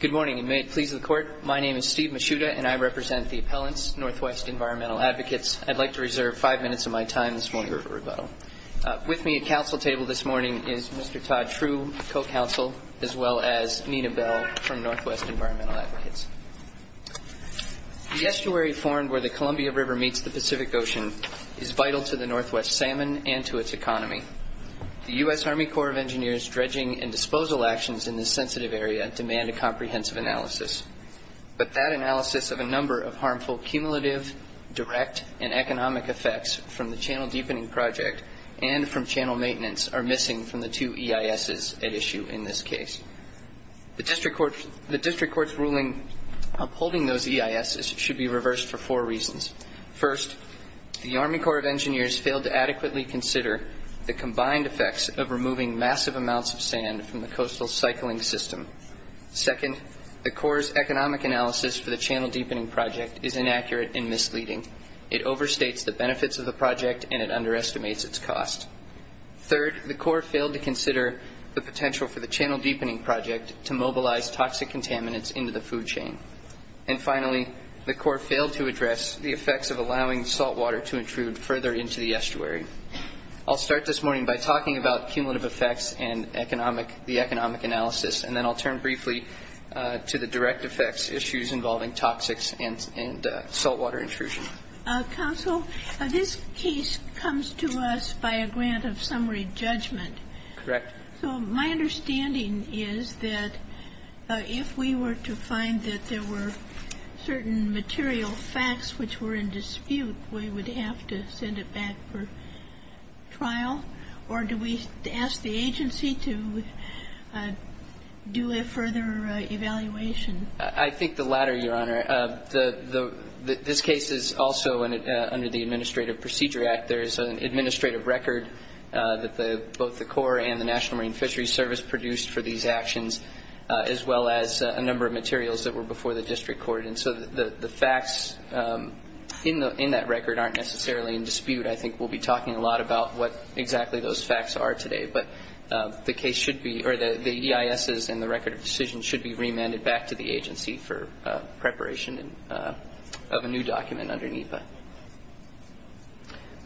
Good morning, and may it please the Court. My name is Steve Mishuda, and I represent the appellants, NW Environmental Advocates. I'd like to reserve five minutes of my time this morning for rebuttal. With me at counsel table this morning is Mr. Todd True, co-counsel, as well as Nina Bell from NW Environmental Advocates. The estuary formed where the Columbia River meets the Pacific Ocean is vital to the NW salmon and to its economy. The U.S. Army Corps of Engineers' dredging and disposal actions in this sensitive area demand a comprehensive analysis. But that analysis of a number of harmful cumulative, direct, and economic effects from the channel deepening project and from channel maintenance are missing from the two EISs at issue in this case. The district court's ruling upholding those EISs should be reversed for four reasons. First, the Army Corps of Engineers failed to adequately consider the combined effects of removing massive amounts of sand from the coastal cycling system. Second, the Corps' economic analysis for the channel deepening project is inaccurate and misleading. It overstates the benefits of the project, and it underestimates its cost. Third, the Corps failed to consider the potential for the channel deepening project to mobilize toxic contaminants into the food chain. And finally, the Corps failed to address the effects of allowing saltwater to intrude further into the estuary. I'll start this morning by talking about cumulative effects and the economic analysis, and then I'll turn briefly to the direct effects issues involving toxics and saltwater intrusion. Counsel, this case comes to us by a grant of summary judgment. Correct. So my understanding is that if we were to find that there were certain material facts which were in dispute, we would have to send it back for trial? Or do we ask the agency to do a further evaluation? I think the latter, Your Honor. This case is also under the Administrative Procedure Act. There is an administrative record that both the Corps and the National Marine Fisheries Service produced for these actions, as well as a number of materials that were before the district court. And so the facts in that record aren't necessarily in dispute. I think we'll be talking a lot about what exactly those facts are today. But the EISs and the record of decisions should be remanded back to the agency for preparation of a new document under NEPA.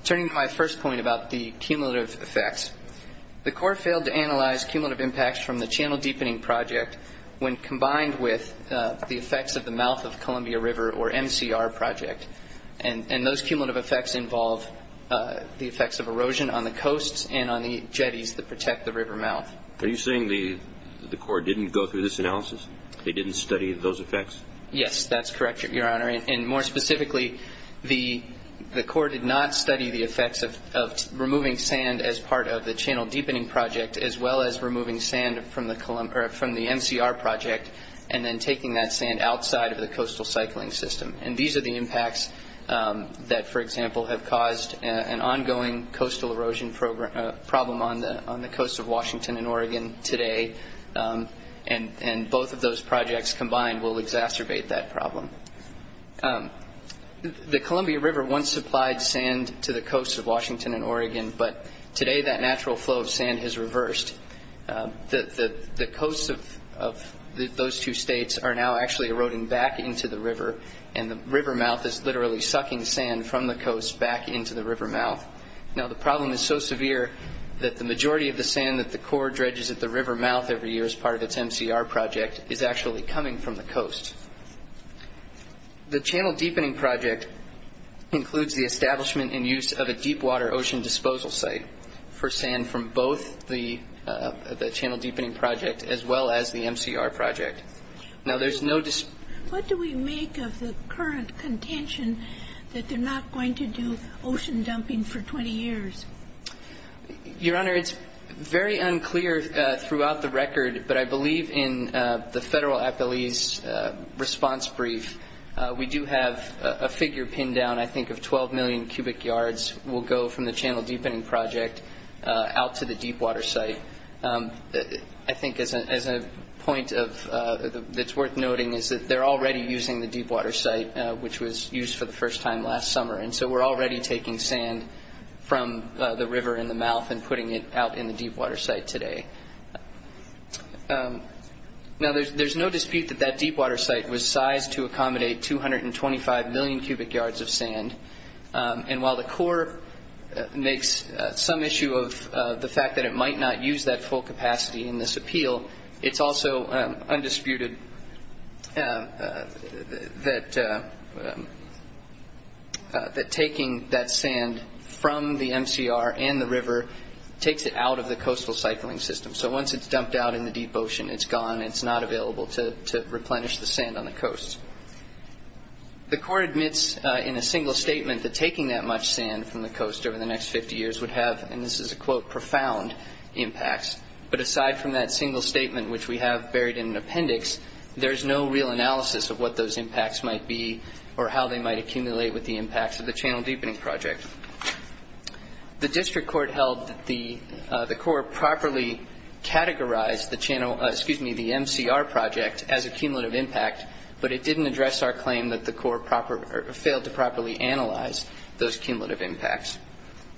Turning to my first point about the cumulative effects, the Corps failed to analyze cumulative impacts from the Channel Deepening Project when combined with the effects of the Mouth of Columbia River, or MCR, project. And those cumulative effects involve the effects of erosion on the coasts and on the jetties that protect the river mouth. Are you saying the Corps didn't go through this analysis? They didn't study those effects? Yes, that's correct, Your Honor. And more specifically, the Corps did not study the effects of removing sand as part of the Channel Deepening Project, as well as removing sand from the MCR project and then taking that sand outside of the coastal cycling system. And these are the impacts that, for example, have caused an ongoing coastal erosion problem on the coasts of Washington and Oregon today. And both of those projects combined will exacerbate that problem. The Columbia River once supplied sand to the coasts of Washington and Oregon, but today that natural flow of sand has reversed. The coasts of those two states are now actually eroding back into the river, and the river mouth is literally sucking sand from the coast back into the river mouth. Now, the problem is so severe that the majority of the sand that the Corps dredges at the river mouth every year as part of its MCR project is actually coming from the coast. The Channel Deepening Project includes the establishment and use of a deep-water ocean disposal site for sand from both the Channel Deepening Project as well as the MCR project. What do we make of the current contention that they're not going to do ocean dumping for 20 years? Your Honor, it's very unclear throughout the record, but I believe in the Federal Appellee's response brief, we do have a figure pinned down, I think, of 12 million cubic yards will go from the Channel Deepening Project out to the deep-water site. I think as a point that's worth noting is that they're already using the deep-water site, which was used for the first time last summer, and so we're already taking sand from the river in the mouth and putting it out in the deep-water site today. Now, there's no dispute that that deep-water site was sized to accommodate 225 million cubic yards of sand, and while the Corps makes some issue of the fact that it might not use that full capacity in this appeal, it's also undisputed that taking that sand from the MCR and the river takes it out of the coastal cycling system. So once it's dumped out in the deep ocean, it's gone. It's not available to replenish the sand on the coast. The Corps admits in a single statement that taking that much sand from the coast over the next 50 years would have, and this is a quote, profound impacts, but aside from that single statement, which we have buried in an appendix, there's no real analysis of what those impacts might be or how they might accumulate with the impacts of the Channel Deepening Project. The District Court held that the Corps properly categorized the MCR project as a cumulative impact, but it didn't address our claim that the Corps failed to properly analyze those cumulative impacts.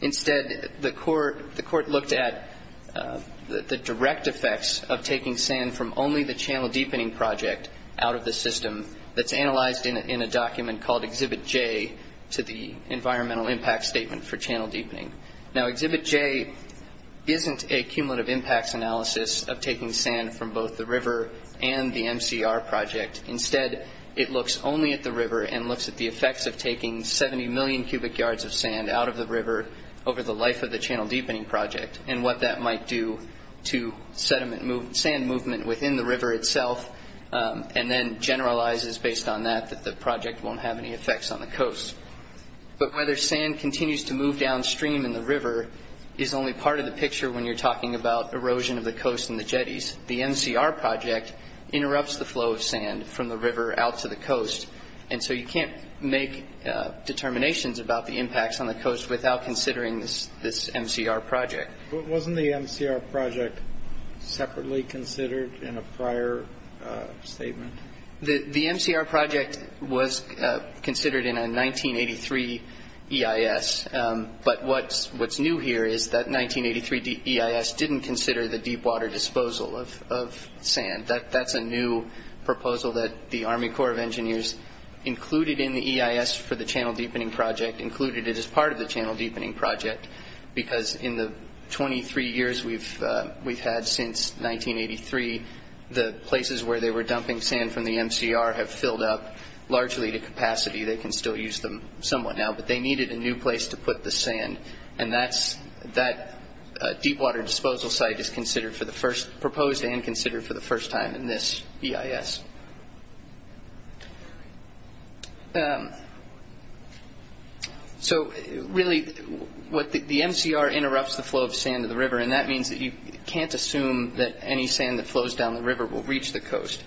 Instead, the Court looked at the direct effects of taking sand from only the Channel Deepening Project out of the system that's analyzed in a document called Exhibit J to the Environmental Impact Statement for Channel Deepening. Now, Exhibit J isn't a cumulative impacts analysis of taking sand from both the river and the MCR project Instead, it looks only at the river and looks at the effects of taking 70 million cubic yards of sand out of the river over the life of the Channel Deepening Project and what that might do to sand movement within the river itself and then generalizes based on that that the project won't have any effects on the coast. But whether sand continues to move downstream in the river is only part of the picture when you're talking about erosion of the coast and the jetties. The MCR project interrupts the flow of sand from the river out to the coast and so you can't make determinations about the impacts on the coast without considering this MCR project. Wasn't the MCR project separately considered in a prior statement? The MCR project was considered in a 1983 EIS, but what's new here is that 1983 EIS didn't consider the deep water disposal of sand. That's a new proposal that the Army Corps of Engineers included in the EIS for the Channel Deepening Project, included it as part of the Channel Deepening Project, because in the 23 years we've had since 1983, the places where they were dumping sand from the MCR have filled up largely to capacity. They can still use them somewhat now, but they needed a new place to put the sand and that deep water disposal site is proposed and considered for the first time in this EIS. So really, the MCR interrupts the flow of sand to the river and that means that you can't assume that any sand that flows down the river will reach the coast.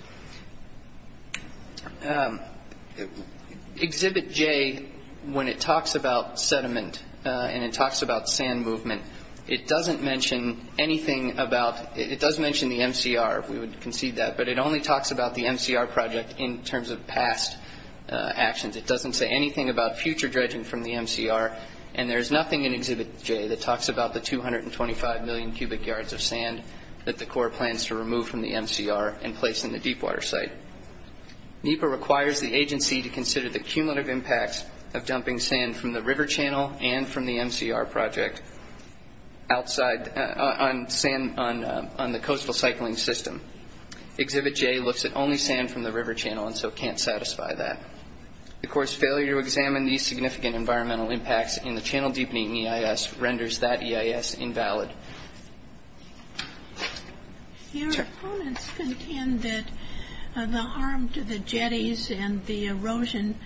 Exhibit J, when it talks about sediment and it talks about sand movement, it doesn't mention anything about, it does mention the MCR, we would concede that, but it only talks about the MCR project in terms of past actions. It doesn't say anything about future dredging from the MCR and there's nothing in Exhibit J that talks about the 225 million cubic yards of sand that the Corps plans to remove from the MCR and place in the deep water site. NEPA requires the agency to consider the cumulative impacts of dumping sand from the river channel and from the MCR project on the coastal cycling system. Exhibit J looks at only sand from the river channel and so can't satisfy that. The Corps' failure to examine these significant environmental impacts in the Channel Deepening EIS renders that EIS invalid. Your opponents contend that the harm to the jetties and the erosion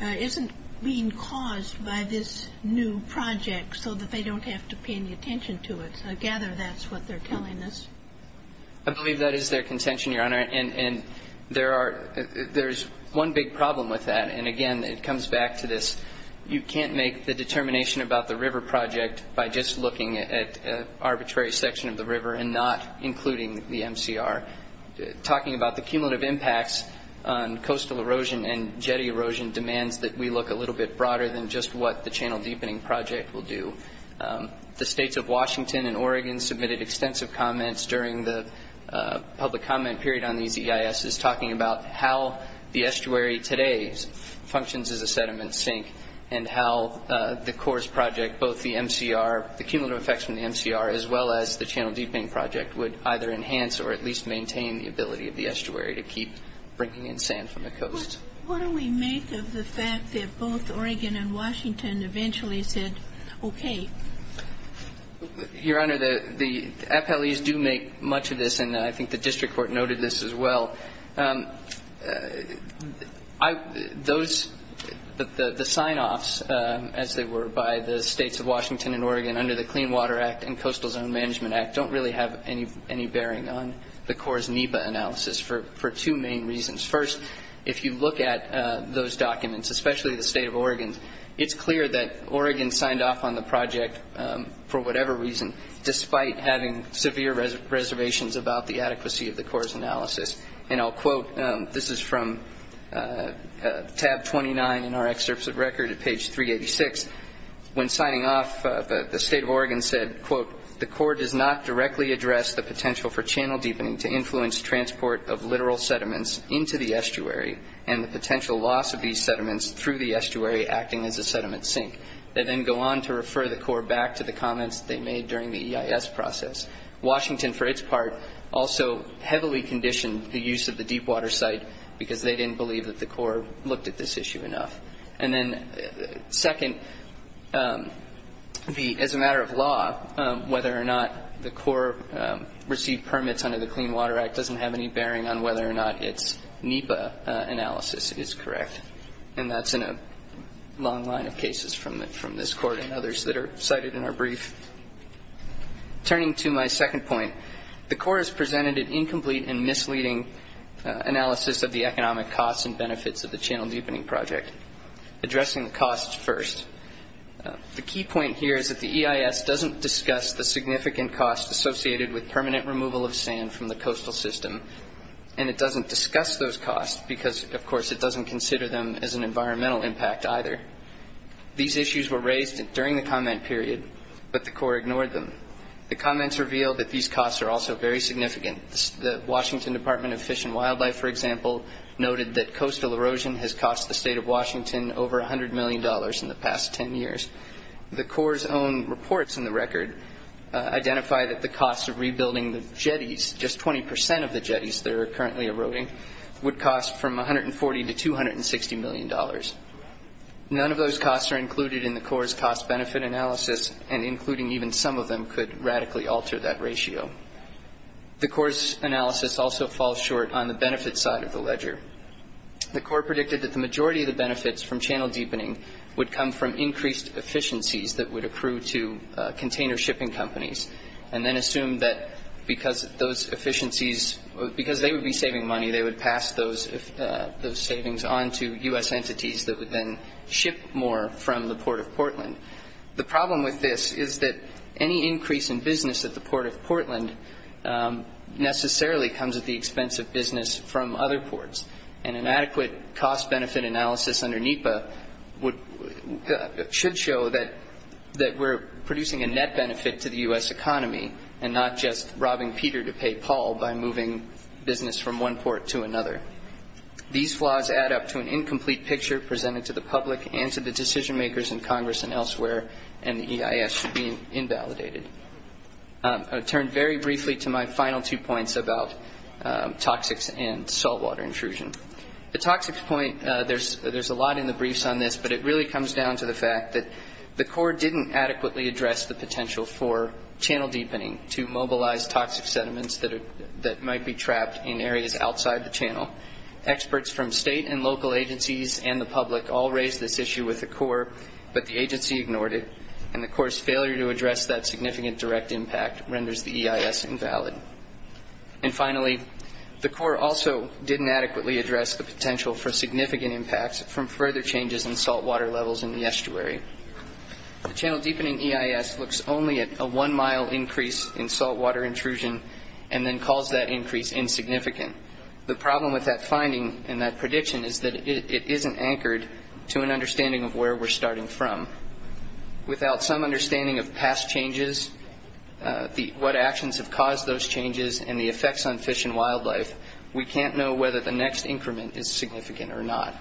isn't being caused by this new project so that they don't have to pay any attention to it. I gather that's what they're telling us. I believe that is their contention, Your Honor, and there's one big problem with that, and again it comes back to this, you can't make the determination about the river project by just looking at an arbitrary section of the river and not including the MCR. Talking about the cumulative impacts on coastal erosion and jetty erosion demands that we look a little bit broader than just what the Channel Deepening Project will do. The states of Washington and Oregon submitted extensive comments during the public comment period on these EISs talking about how the estuary today functions as a sediment sink and how the Corps' project, both the MCR, the cumulative effects from the MCR, as well as the Channel Deepening Project would either enhance or at least maintain the ability of the estuary to keep bringing in sand from the coast. What do we make of the fact that both Oregon and Washington eventually said okay? Your Honor, the appellees do make much of this, and I think the district court noted this as well. The sign-offs, as they were, by the states of Washington and Oregon under the Clean Water Act and Coastal Zone Management Act don't really have any bearing on the Corps' NEPA analysis for two main reasons. First, if you look at those documents, especially the state of Oregon, it's clear that Oregon signed off on the project for whatever reason, despite having severe reservations about the adequacy of the Corps' analysis. And I'll quote. This is from tab 29 in our excerpts of record at page 386. When signing off, the state of Oregon said, quote, the Corps does not directly address the potential for channel deepening to influence transport of literal sediments into the estuary and the potential loss of these sediments through the estuary acting as a sediment sink. They then go on to refer the Corps back to the comments they made during the EIS process. Washington, for its part, also heavily conditioned the use of the deepwater site because they didn't believe that the Corps looked at this issue enough. And then second, as a matter of law, whether or not the Corps received permits under the Clean Water Act doesn't have any bearing on whether or not its NEPA analysis is correct. And that's in a long line of cases from this court and others that are cited in our brief. Turning to my second point, the Corps has presented an incomplete and misleading analysis of the economic costs and benefits of the channel deepening project, addressing the costs first. The key point here is that the EIS doesn't discuss the significant costs associated with permanent removal of sand from the coastal system, and it doesn't discuss those costs because, of course, it doesn't consider them as an environmental impact either. These issues were raised during the comment period, but the Corps ignored them. The comments reveal that these costs are also very significant. The Washington Department of Fish and Wildlife, for example, noted that coastal erosion has cost the state of Washington over $100 million in the past 10 years. The Corps' own reports in the record identify that the cost of rebuilding the jetties, just 20 percent of the jetties that are currently eroding, would cost from $140 to $260 million. None of those costs are included in the Corps' cost-benefit analysis, and including even some of them could radically alter that ratio. The Corps' analysis also falls short on the benefits side of the ledger. The Corps predicted that the majority of the benefits from channel deepening would come from increased efficiencies that would accrue to container shipping companies, and then assumed that because those efficiencies, because they would be saving money, they would pass those savings on to U.S. entities that would then ship more from the Port of Portland. The problem with this is that any increase in business at the Port of Portland necessarily comes at the expense of business from other ports, and an adequate cost-benefit analysis under NEPA should show that we're producing a net benefit to the U.S. economy, and not just robbing Peter to pay Paul by moving business from one port to another. These flaws add up to an incomplete picture presented to the public and to the decision-makers in Congress and elsewhere, and the EIS should be invalidated. I'll turn very briefly to my final two points about toxics and saltwater intrusion. The toxics point, there's a lot in the briefs on this, but it really comes down to the fact that the Corps didn't adequately address the potential for channel deepening to mobilize toxic sediments that might be trapped in areas outside the channel. Experts from state and local agencies and the public all raised this issue with the Corps, but the agency ignored it, and the Corps' failure to address that significant direct impact renders the EIS invalid. And finally, the Corps also didn't adequately address the potential for significant impacts from further changes in saltwater levels in the estuary. The channel deepening EIS looks only at a one-mile increase in saltwater intrusion and then calls that increase insignificant. The problem with that finding and that prediction is that it isn't anchored to an understanding of where we're starting from. Without some understanding of past changes, what actions have caused those changes, and the effects on fish and wildlife, we can't know whether the next increment is significant or not.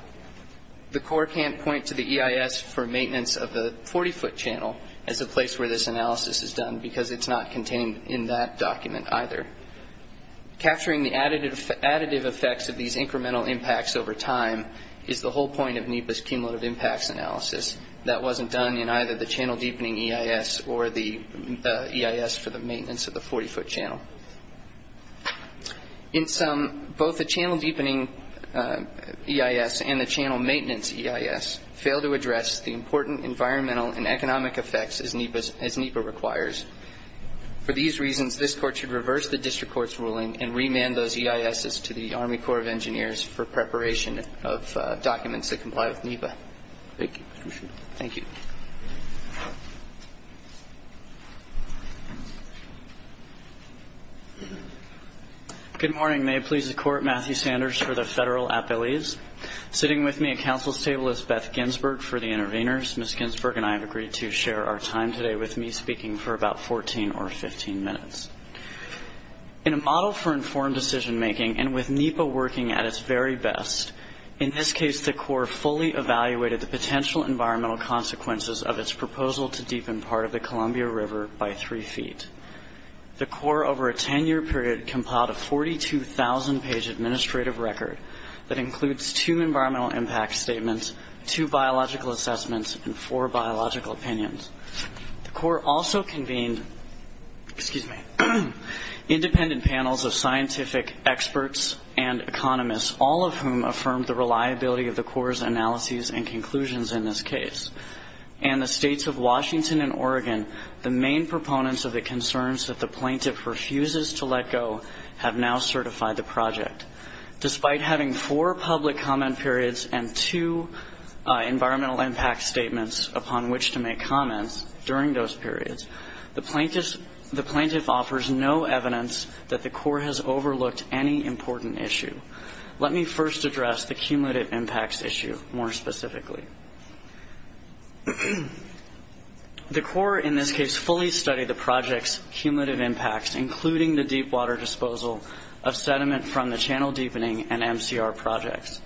The Corps can't point to the EIS for maintenance of the 40-foot channel as a place where this analysis is done because it's not contained in that document either. Capturing the additive effects of these incremental impacts over time is the whole point of NEPA's cumulative impacts analysis. That wasn't done in either the channel deepening EIS or the EIS for the maintenance of the 40-foot channel. In sum, both the channel deepening EIS and the channel maintenance EIS fail to address the important environmental and economic effects as NEPA requires. For these reasons, this Court should reverse the district court's ruling and remand those EISs to the Army Corps of Engineers for preparation of documents that comply with NEPA. Thank you. Appreciate it. Thank you. Good morning. May it please the Court. Matthew Sanders for the Federal Appellees. Sitting with me at counsel's table is Beth Ginsberg for the interveners. Ms. Ginsberg and I have agreed to share our time today with me speaking for about 14 or 15 minutes. In a model for informed decision-making and with NEPA working at its very best, in this case the Corps fully evaluated the potential environmental consequences of its proposal to deepen part of the Columbia River by three feet. The Corps over a 10-year period compiled a 42,000-page administrative record that includes two environmental impact statements, two biological assessments, and four biological opinions. The Corps also convened independent panels of scientific experts and economists, all of whom affirmed the reliability of the Corps' analyses and conclusions in this case. In the states of Washington and Oregon, the main proponents of the concerns that the plaintiff refuses to let go have now certified the project. Despite having four public comment periods and two environmental impact statements upon which to make comments during those periods, the plaintiff offers no evidence that the Corps has overlooked any important issue. Let me first address the cumulative impacts issue more specifically. The Corps in this case fully studied the project's cumulative impacts, including the deepwater disposal of sediment from the channel deepening and MCR projects.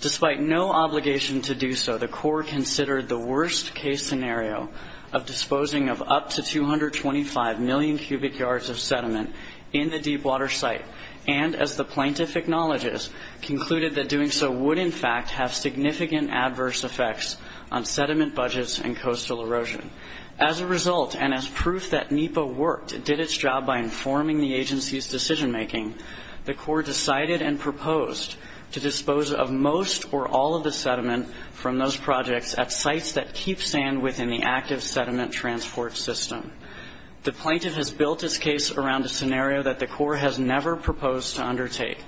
Despite no obligation to do so, the Corps considered the worst-case scenario of disposing of up to 225 million cubic yards of sediment in the deepwater site and, as the plaintiff acknowledges, concluded that doing so would in fact have significant adverse effects on sediment budgets and coastal erosion. As a result, and as proof that NEPA worked and did its job by informing the agency's decision-making, the Corps decided and proposed to dispose of most or all of the sediment from those projects at sites that keep sand within the active sediment transport system. The plaintiff has built his case around a scenario that the Corps has never proposed to undertake,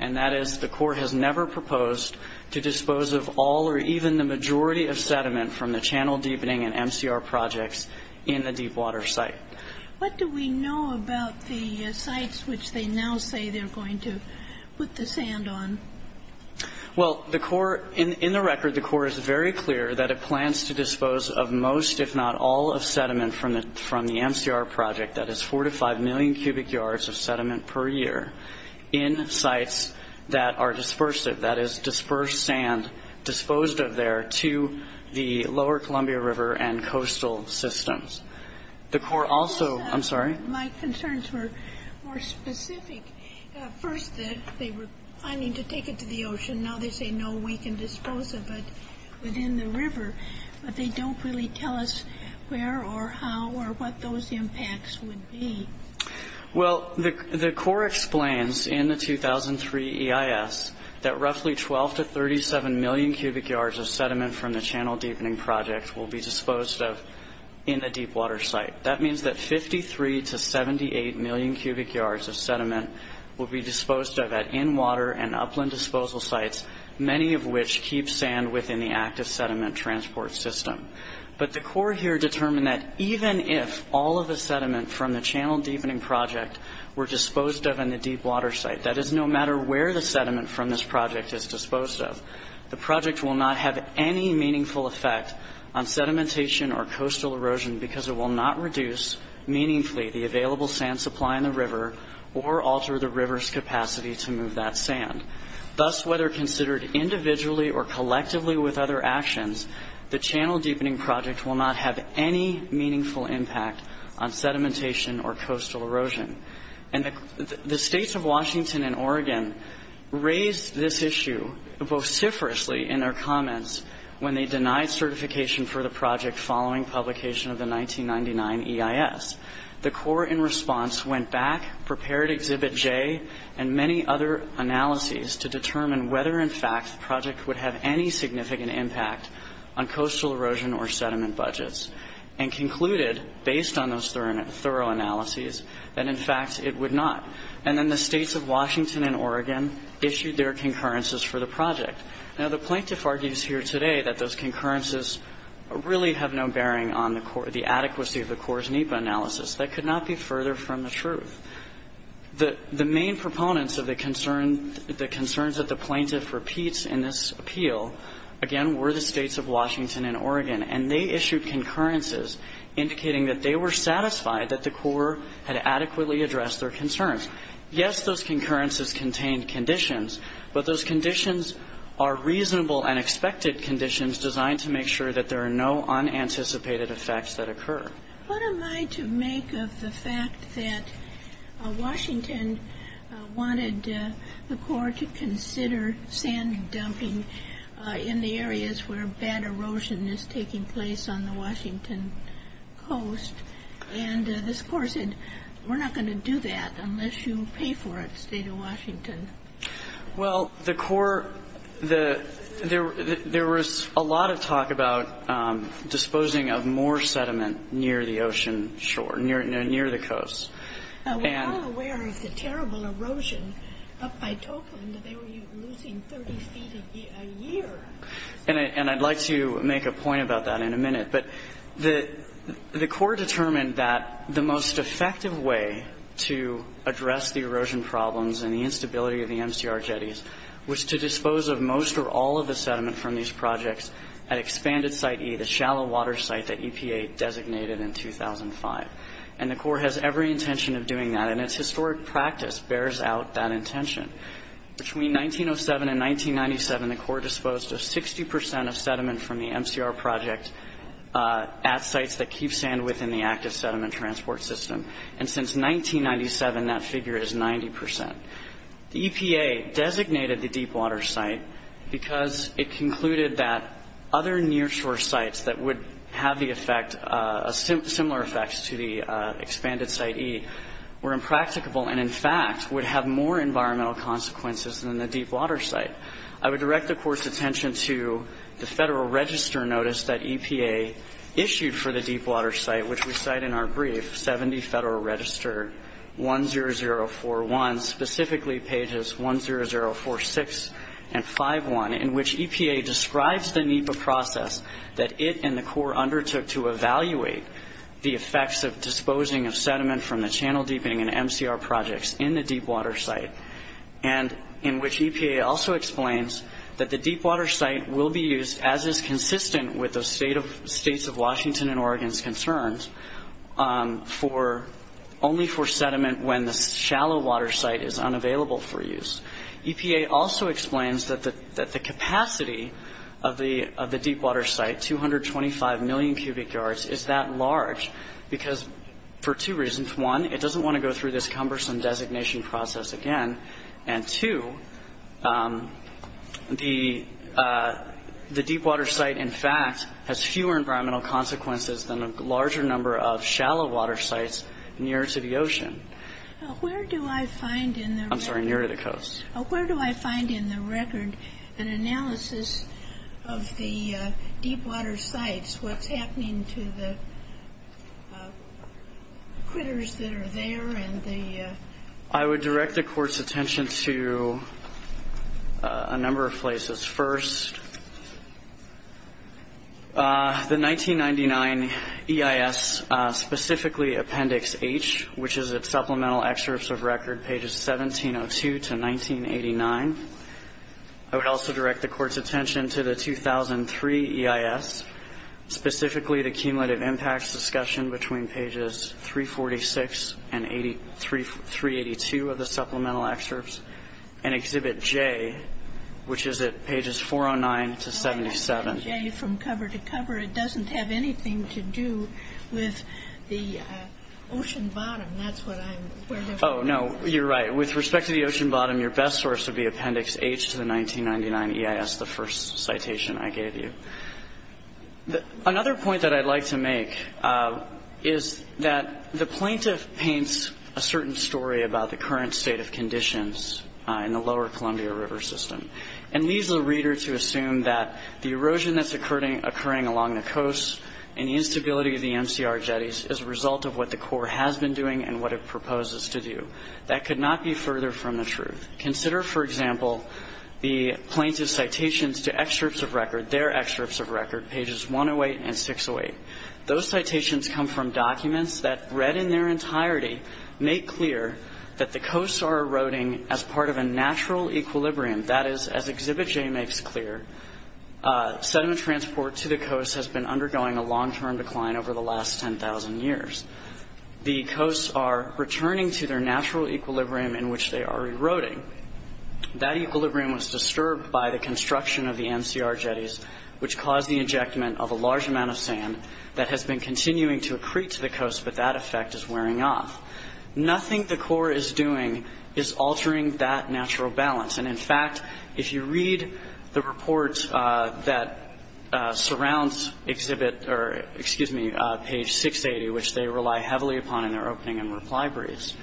and that is the Corps has never proposed to dispose of all or even the majority of sediment from the channel deepening and MCR projects in the deepwater site. What do we know about the sites which they now say they're going to put the sand on? Well, in the record, the Corps is very clear that it plans to dispose of most, if not all, of sediment from the MCR project, that is 4 to 5 million cubic yards of sediment per year, in sites that are dispersive, that is, disperse sand disposed of there to the lower Columbia River and coastal systems. The Corps also—I'm sorry? My concerns were more specific. First, they were planning to take it to the ocean. Now they say, no, we can dispose of it within the river, but they don't really tell us where or how or what those impacts would be. Well, the Corps explains in the 2003 EIS that roughly 12 to 37 million cubic yards of sediment from the channel deepening project will be disposed of in the deepwater site. That means that 53 to 78 million cubic yards of sediment will be disposed of at in-water and upland disposal sites, many of which keep sand within the active sediment transport system. But the Corps here determined that even if all of the sediment from the channel deepening project were disposed of in the deepwater site, that is, no matter where the sediment from this project is disposed of, the project will not have any meaningful effect on sedimentation or coastal erosion because it will not reduce meaningfully the available sand supply in the river or alter the river's capacity to move that sand. Thus, whether considered individually or collectively with other actions, the channel deepening project will not have any meaningful impact on sedimentation or coastal erosion. And the states of Washington and Oregon raised this issue vociferously in their comments when they denied certification for the project following publication of the 1999 EIS. The Corps, in response, went back, prepared Exhibit J and many other analyses to determine whether, in fact, the project would have any significant impact on coastal erosion or sediment budgets and concluded, based on those thorough analyses, that, in fact, it would not. And then the states of Washington and Oregon issued their concurrences for the project. Now, the plaintiff argues here today that those concurrences really have no bearing on the adequacy of the Corps' NEPA analysis. That could not be further from the truth. The main proponents of the concerns that the plaintiff repeats in this appeal, again, were the states of Washington and Oregon, and they issued concurrences indicating that they were satisfied that the Corps had adequately addressed their concerns. Yes, those concurrences contained conditions, but those conditions are reasonable and expected conditions designed to make sure that there are no unanticipated effects that occur. What am I to make of the fact that Washington wanted the Corps to consider sand dumping in the areas where bad erosion is taking place on the Washington coast, and this Corps said, we're not going to do that unless you pay for it, state of Washington? Well, the Corps, there was a lot of talk about disposing of more sediment near the ocean shore, near the coast. We're all aware of the terrible erosion up by Topeland. They were losing 30 feet a year. And I'd like to make a point about that in a minute. But the Corps determined that the most effective way to address the erosion problems and the instability of the MCR jetties was to dispose of most or all of the sediment from these projects at Expanded Site E, the shallow water site that EPA designated in 2005. And the Corps has every intention of doing that, and its historic practice bears out that intention. Between 1907 and 1997, the Corps disposed of 60 percent of sediment from the MCR project at sites that keep sand within the active sediment transport system. And since 1997, that figure is 90 percent. The EPA designated the deep water site because it concluded that other near shore sites that would have similar effects to the Expanded Site E were impracticable and, in fact, would have more environmental consequences than the deep water site. I would direct the Corps' attention to the Federal Register notice that EPA issued for the deep water site, which we cite in our brief, 70 Federal Register 10041, specifically pages 10046 and 5-1, in which EPA describes the NEPA process that it and the Corps undertook to evaluate the effects of disposing of sediment from the channel deepening and MCR projects in the deep water site, and in which EPA also explains that the deep water site will be used, as is consistent with the states of Washington and Oregon's concerns, only for sediment when the shallow water site is unavailable for use. EPA also explains that the capacity of the deep water site, 225 million cubic yards, is that large because for two reasons. One, it doesn't want to go through this cumbersome designation process again, and two, the deep water site, in fact, has fewer environmental consequences than a larger number of shallow water sites near to the ocean. Where do I find in the record an analysis of the deep water sites, what's happening to the critters that are there? I would direct the Court's attention to a number of places. First, the 1999 EIS, specifically Appendix H, which is at Supplemental Excerpts of Record, pages 1702 to 1989. I would also direct the Court's attention to the 2003 EIS, specifically the Cumulative Impacts Discussion between pages 346 and 382 of the Supplemental Excerpts, and Exhibit J, which is at pages 409 to 77. Well, I have Exhibit J from cover to cover. It doesn't have anything to do with the ocean bottom. That's what I'm— Oh, no, you're right. With respect to the ocean bottom, your best source would be Appendix H to the 1999 EIS, the first citation I gave you. Another point that I'd like to make is that the plaintiff paints a certain story about the current state of conditions in the lower Columbia River system and leaves the reader to assume that the erosion that's occurring along the coast and the instability of the MCR jetties is a result of what the Corps has been doing and what it proposes to do. That could not be further from the truth. Consider, for example, the plaintiff's citations to excerpts of record, their excerpts of record, pages 108 and 608. Those citations come from documents that, read in their entirety, make clear that the coasts are eroding as part of a natural equilibrium. That is, as Exhibit J makes clear, sediment transport to the coast has been undergoing a long-term decline over the last 10,000 years. The coasts are returning to their natural equilibrium in which they are eroding. That equilibrium was disturbed by the construction of the MCR jetties, which caused the ejectment of a large amount of sand that has been continuing to accrete to the coast, but that effect is wearing off. Nothing the Corps is doing is altering that natural balance. In fact, if you read the report that surrounds page 680, which they rely heavily upon in their opening and reply briefs,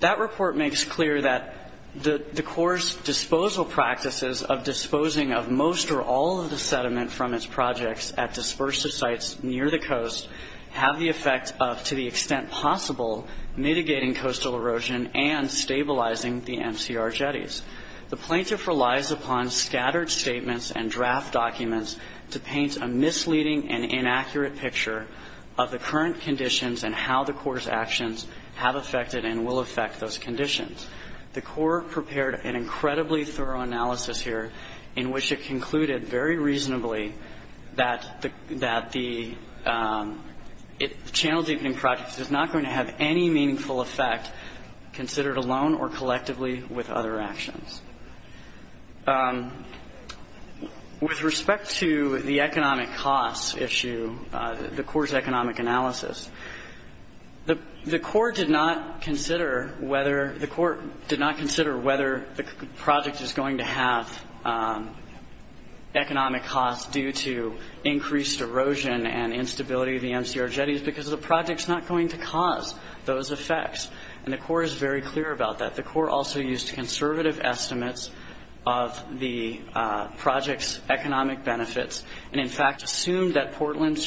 that report makes clear that the Corps' disposal practices of disposing of most or all of the sediment from its projects at dispersive sites near the coast have the effect of, to the extent possible, mitigating coastal erosion and stabilizing the MCR jetties. The plaintiff relies upon scattered statements and draft documents to paint a misleading and inaccurate picture of the current conditions and how the Corps' actions have affected and will affect those conditions. The Corps prepared an incredibly thorough analysis here in which it concluded very reasonably that the channel deepening project is not going to have any meaningful effect considered alone or collectively with other actions. With respect to the economic costs issue, the Corps' economic analysis, the Corps did not consider whether the project is going to have economic costs due to increased erosion and instability of the MCR jetties because the project is not going to cause those effects. And the Corps is very clear about that. The Corps also used conservative estimates of the project's economic benefits and, in fact, assumed that Portland's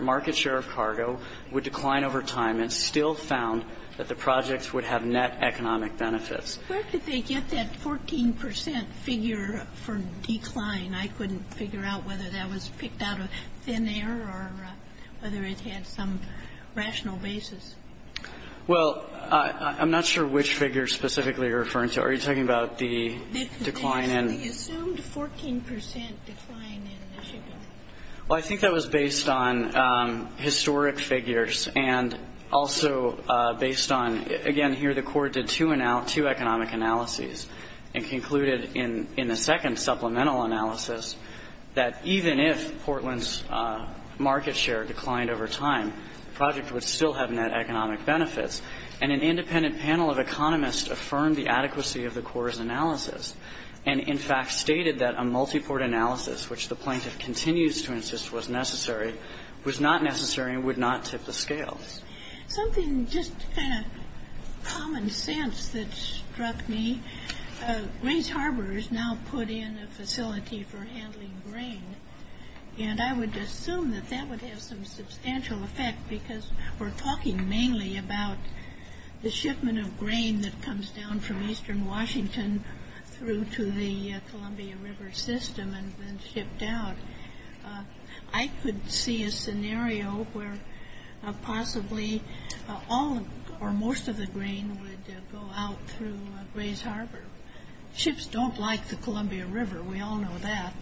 market share of cargo would decline over time and still found that the project would have net economic benefits. Where could they get that 14 percent figure for decline? I mean, I couldn't figure out whether that was picked out of thin air or whether it had some rational basis. Well, I'm not sure which figure specifically you're referring to. Are you talking about the decline in? The assumed 14 percent decline in Michigan. Well, I think that was based on historic figures and also based on, again, here the Corps did two economic analyses and concluded in the second supplemental analysis that even if Portland's market share declined over time, the project would still have net economic benefits. And an independent panel of economists affirmed the adequacy of the Corps' analysis and, in fact, stated that a multiport analysis, which the plaintiff continues to insist was necessary, was not necessary and would not tip the scales. Something just kind of common sense that struck me, Grays Harbor is now put in a facility for handling grain, and I would assume that that would have some substantial effect because we're talking mainly about the shipment of grain that comes down from eastern Washington through to the Columbia River system and then shipped out. I could see a scenario where possibly all or most of the grain would go out through Grays Harbor. Ships don't like the Columbia River. We all know that.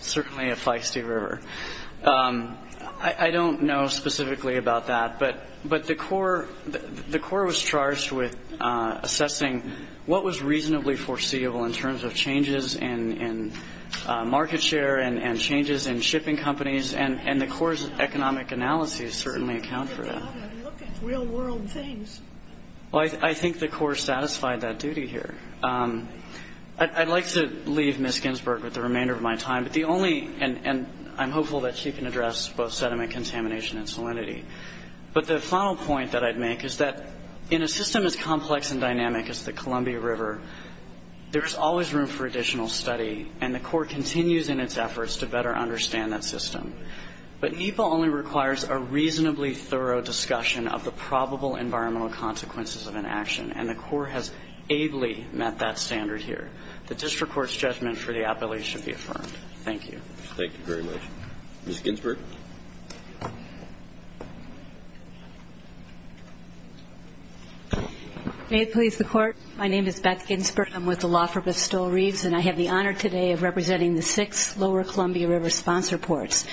Certainly a feisty river. I don't know specifically about that, but the Corps was charged with assessing what was reasonably foreseeable in terms of changes in market share and changes in shipping companies, and the Corps' economic analyses certainly account for that. I think the Corps satisfied that duty here. I'd like to leave Ms. Ginsburg with the remainder of my time, and I'm hopeful that she can address both sediment contamination and salinity. But the final point that I'd make is that in a system as complex and dynamic as the Columbia River, there is always room for additional study, and the Corps continues in its efforts to better understand that system. But NEPA only requires a reasonably thorough discussion of the probable environmental consequences of an action, and the Corps has ably met that standard here. The district court's judgment for the appellate should be affirmed. Thank you. Thank you very much. Ms. Ginsburg. May it please the Court. My name is Beth Ginsburg. I'm with the law firm of Stowell Reeves, and I have the honor today of representing the six lower Columbia River sponsor ports,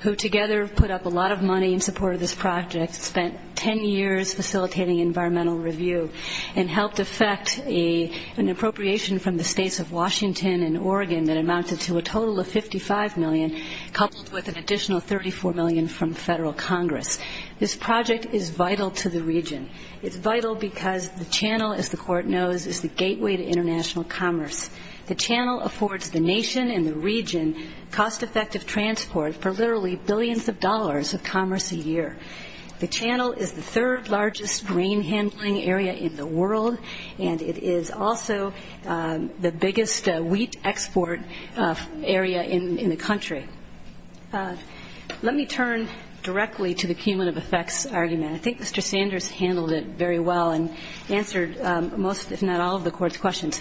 who together put up a lot of money in support of this project, spent 10 years facilitating environmental review, and helped effect an appropriation from the states of Washington and Oregon that amounted to a total of $55 million, coupled with an additional $34 million from federal Congress. This project is vital to the region. It's vital because the channel, as the Court knows, is the gateway to international commerce. The channel affords the nation and the region cost-effective transport for literally billions of dollars of commerce a year. The channel is the third largest grain handling area in the world, and it is also the biggest wheat export area in the country. Let me turn directly to the cumulative effects argument. I think Mr. Sanders handled it very well and answered most, if not all, of the Court's questions.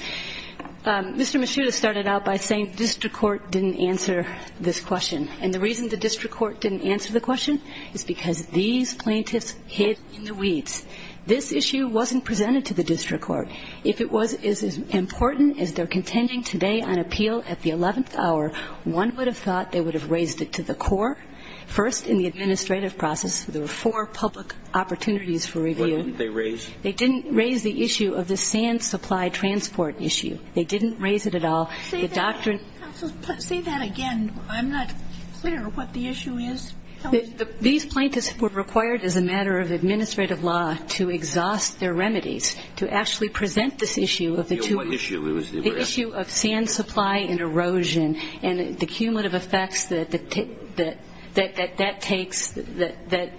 Mr. Mishuda started out by saying the district court didn't answer this question. And the reason the district court didn't answer the question is because these plaintiffs hid in the weeds. This issue wasn't presented to the district court. If it was as important as they're contending today on appeal at the 11th hour, one would have thought they would have raised it to the core. First, in the administrative process, there were four public opportunities for review. What didn't they raise? They didn't raise the issue of the sand supply transport issue. They didn't raise it at all. Say that again. I'm not clear what the issue is. These plaintiffs were required, as a matter of administrative law, to exhaust their remedies to actually present this issue of the two issues, the issue of sand supply and erosion and the cumulative effects that that takes, that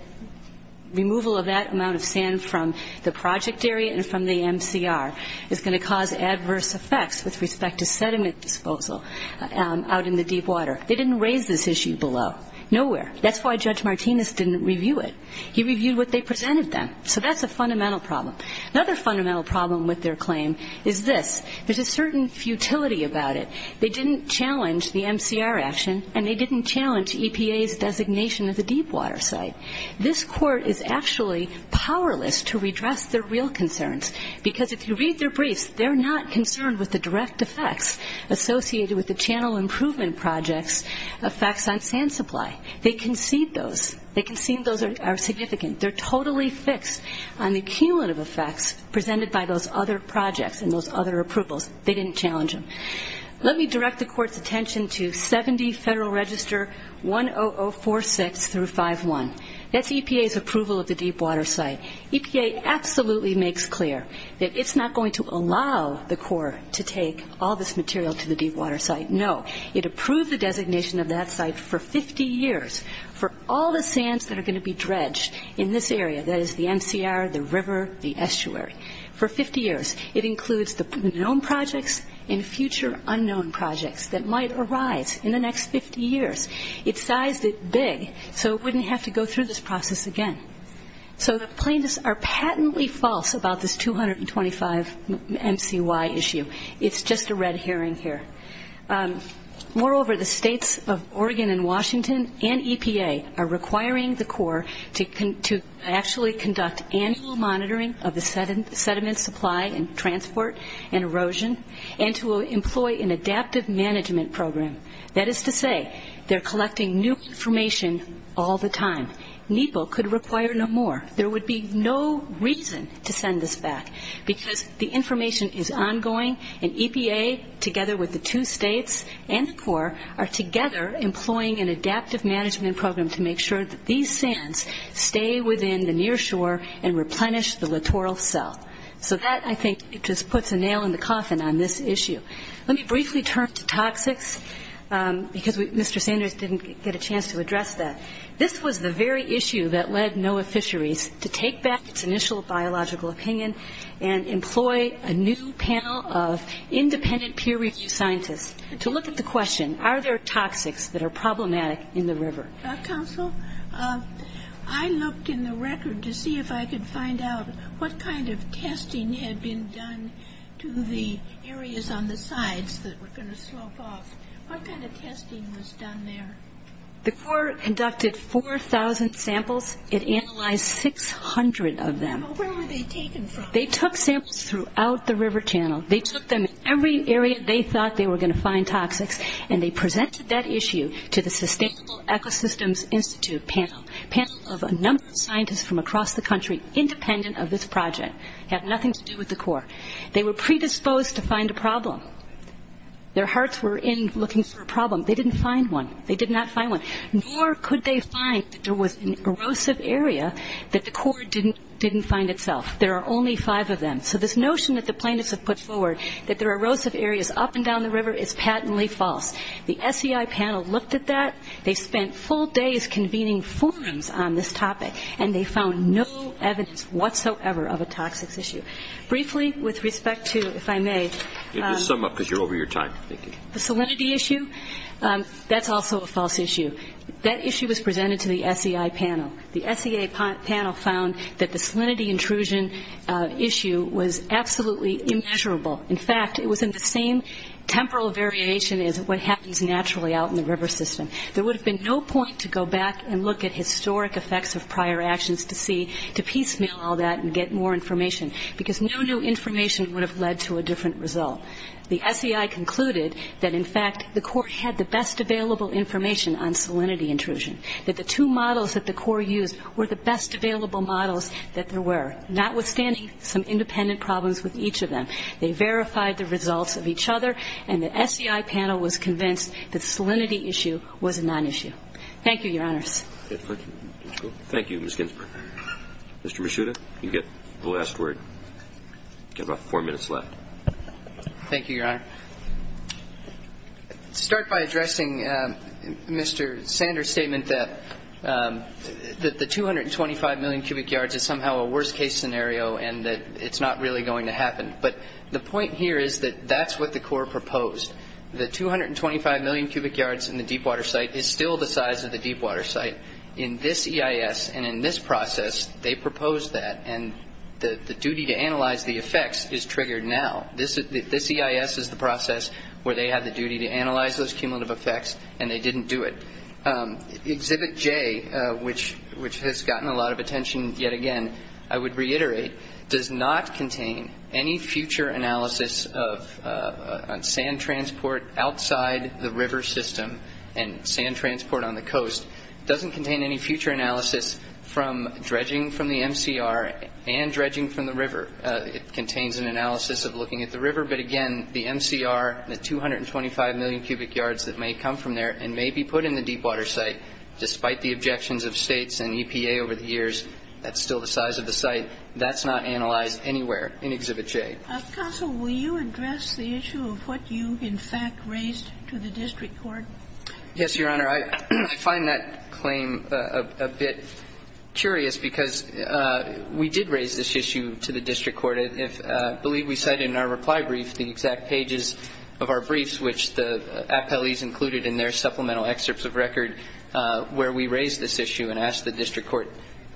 removal of that amount of sand from the project area and from the MCR is going to cause adverse effects with respect to sediment disposal out in the deep water. They didn't raise this issue below. Nowhere. That's why Judge Martinez didn't review it. He reviewed what they presented them. So that's a fundamental problem. Another fundamental problem with their claim is this. There's a certain futility about it. They didn't challenge the MCR action, and they didn't challenge EPA's designation of the deep water site. This court is actually powerless to redress their real concerns because if you read their briefs, they're not concerned with the direct effects associated with the channel improvement projects, effects on sand supply. They concede those. They concede those are significant. They're totally fixed on the cumulative effects presented by those other projects and those other approvals. They didn't challenge them. Let me direct the court's attention to 70 Federal Register 10046-51. That's EPA's approval of the deep water site. EPA absolutely makes clear that it's not going to allow the court to take all this material to the deep water site, no. It approved the designation of that site for 50 years for all the sands that are going to be dredged in this area, that is the MCR, the river, the estuary, for 50 years. It includes the known projects and future unknown projects that might arise in the next 50 years. It sized it big so it wouldn't have to go through this process again. So the plaintiffs are patently false about this 225 MCY issue. It's just a red herring here. Moreover, the states of Oregon and Washington and EPA are requiring the court to actually conduct annual monitoring of the sediment supply and transport and erosion and to employ an adaptive management program. That is to say, they're collecting new information all the time. NEPA could require no more. There would be no reason to send this back because the information is ongoing, employing an adaptive management program to make sure that these sands stay within the near shore and replenish the littoral cell. So that, I think, just puts a nail in the coffin on this issue. Let me briefly turn to toxics because Mr. Sanders didn't get a chance to address that. This was the very issue that led NOAA Fisheries to take back its initial biological opinion and employ a new panel of independent peer-reviewed scientists to look at the question, are there toxics that are problematic in the river? Counsel, I looked in the record to see if I could find out what kind of testing had been done to the areas on the sides that were going to slope off. What kind of testing was done there? The court conducted 4,000 samples. It analyzed 600 of them. Yeah, but where were they taken from? They took samples throughout the river channel. They took them in every area they thought they were going to find toxics, and they presented that issue to the Sustainable Ecosystems Institute panel, a panel of a number of scientists from across the country independent of this project. It had nothing to do with the Corps. They were predisposed to find a problem. Their hearts were in looking for a problem. They didn't find one. They did not find one. Nor could they find that there was an erosive area that the Corps didn't find itself. There are only five of them. So this notion that the plaintiffs have put forward, that there are erosive areas up and down the river, is patently false. The SEI panel looked at that. They spent full days convening forums on this topic, and they found no evidence whatsoever of a toxics issue. Briefly, with respect to, if I may. Just sum up because you're over your time. The salinity issue, that's also a false issue. That issue was presented to the SEI panel. The SEI panel found that the salinity intrusion issue was absolutely immeasurable. In fact, it was in the same temporal variation as what happens naturally out in the river system. There would have been no point to go back and look at historic effects of prior actions to see, to piecemeal all that and get more information, because no new information would have led to a different result. The SEI concluded that, in fact, the Corps had the best available information on salinity intrusion, that the two models that the Corps used were the best available models that there were, notwithstanding some independent problems with each of them. They verified the results of each other, and the SEI panel was convinced the salinity issue was a nonissue. Thank you, Your Honors. Thank you, Ms. Ginsburg. Mr. Mishuda, you get the last word. You've got about four minutes left. Thank you, Your Honor. I'll start by addressing Mr. Sanders' statement that the 225 million cubic yards is somehow a worst-case scenario and that it's not really going to happen. But the point here is that that's what the Corps proposed. The 225 million cubic yards in the deepwater site is still the size of the deepwater site. In this EIS and in this process, they proposed that, and the duty to analyze the effects is triggered now. This EIS is the process where they have the duty to analyze those cumulative effects, and they didn't do it. Exhibit J, which has gotten a lot of attention yet again, I would reiterate, does not contain any future analysis of sand transport outside the river system and sand transport on the coast. It doesn't contain any future analysis from dredging from the MCR and dredging from the river. It contains an analysis of looking at the river. But again, the MCR, the 225 million cubic yards that may come from there and may be put in the deepwater site, despite the objections of States and EPA over the years, that's still the size of the site. That's not analyzed anywhere in Exhibit J. Counsel, will you address the issue of what you, in fact, raised to the district court? Yes, Your Honor. Your Honor, I find that claim a bit curious because we did raise this issue to the district court. I believe we cited in our reply brief the exact pages of our briefs, which the appellees included in their supplemental excerpts of record, where we raised this issue and asked the district court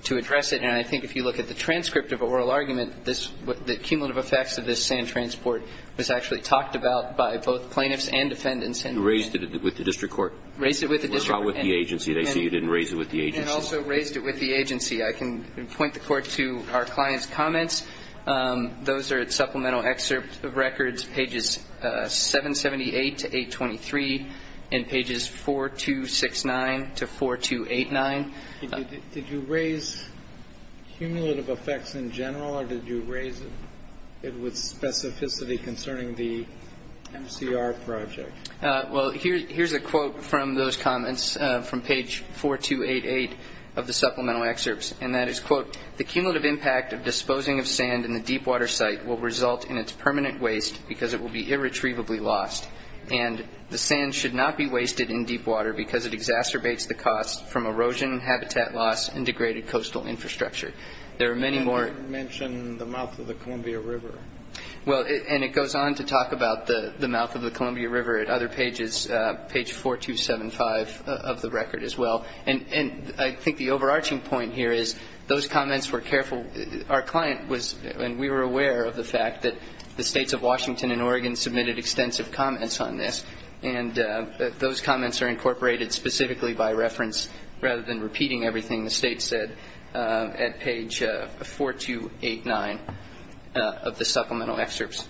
to address it. And I think if you look at the transcript of oral argument, the cumulative effects of this sand transport was actually talked about by both plaintiffs and defendants. You raised it with the district court? Raised it with the district court. With the agency. They say you didn't raise it with the agency. And also raised it with the agency. I can point the court to our client's comments. Those are at supplemental excerpt of records, pages 778 to 823 and pages 4269 to 4289. Did you raise cumulative effects in general or did you raise it with specificity concerning the MCR project? Well, here's a quote from those comments from page 4288 of the supplemental excerpts. And that is, quote, The cumulative impact of disposing of sand in the deepwater site will result in its permanent waste because it will be irretrievably lost. And the sand should not be wasted in deepwater because it exacerbates the cost from erosion, habitat loss, and degraded coastal infrastructure. There are many more. You didn't mention the mouth of the Columbia River. Well, and it goes on to talk about the mouth of the Columbia River at other pages, page 4275 of the record as well. And I think the overarching point here is those comments were careful. Our client was, and we were aware of the fact that the states of Washington and Oregon submitted extensive comments on this. And those comments are incorporated specifically by reference, rather than repeating everything the state said at page 4289 of the supplemental excerpts.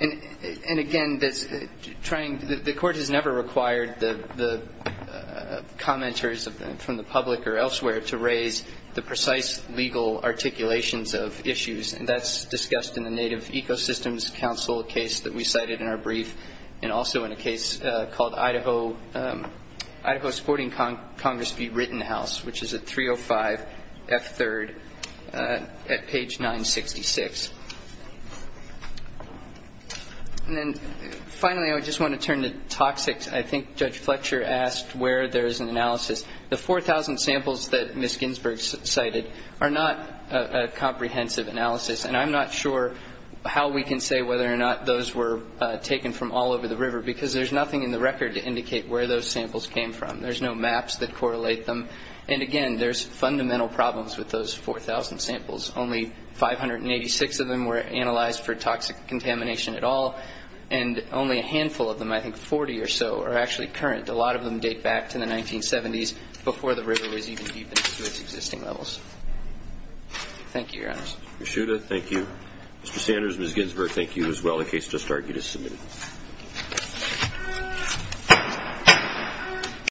And, again, the court has never required the commenters from the public or elsewhere to raise the precise legal articulations of issues, and that's discussed in the Native Ecosystems Council case that we cited in our brief, and also in a case called Idaho Supporting Congress v. Rittenhouse, which is at 305F3rd at page 966. And then, finally, I just want to turn to toxics. I think Judge Fletcher asked where there is an analysis. The 4,000 samples that Ms. Ginsburg cited are not a comprehensive analysis, and I'm not sure how we can say whether or not those were taken from all over the river because there's nothing in the record to indicate where those samples came from. There's no maps that correlate them. And, again, there's fundamental problems with those 4,000 samples. Only 586 of them were analyzed for toxic contamination at all, and only a handful of them, I think 40 or so, are actually current. A lot of them date back to the 1970s before the river was even deep into its existing levels. Thank you, Your Honors. Ms. Shuda, thank you. Mr. Sanders, Ms. Ginsburg, thank you as well. The case just argued is submitted.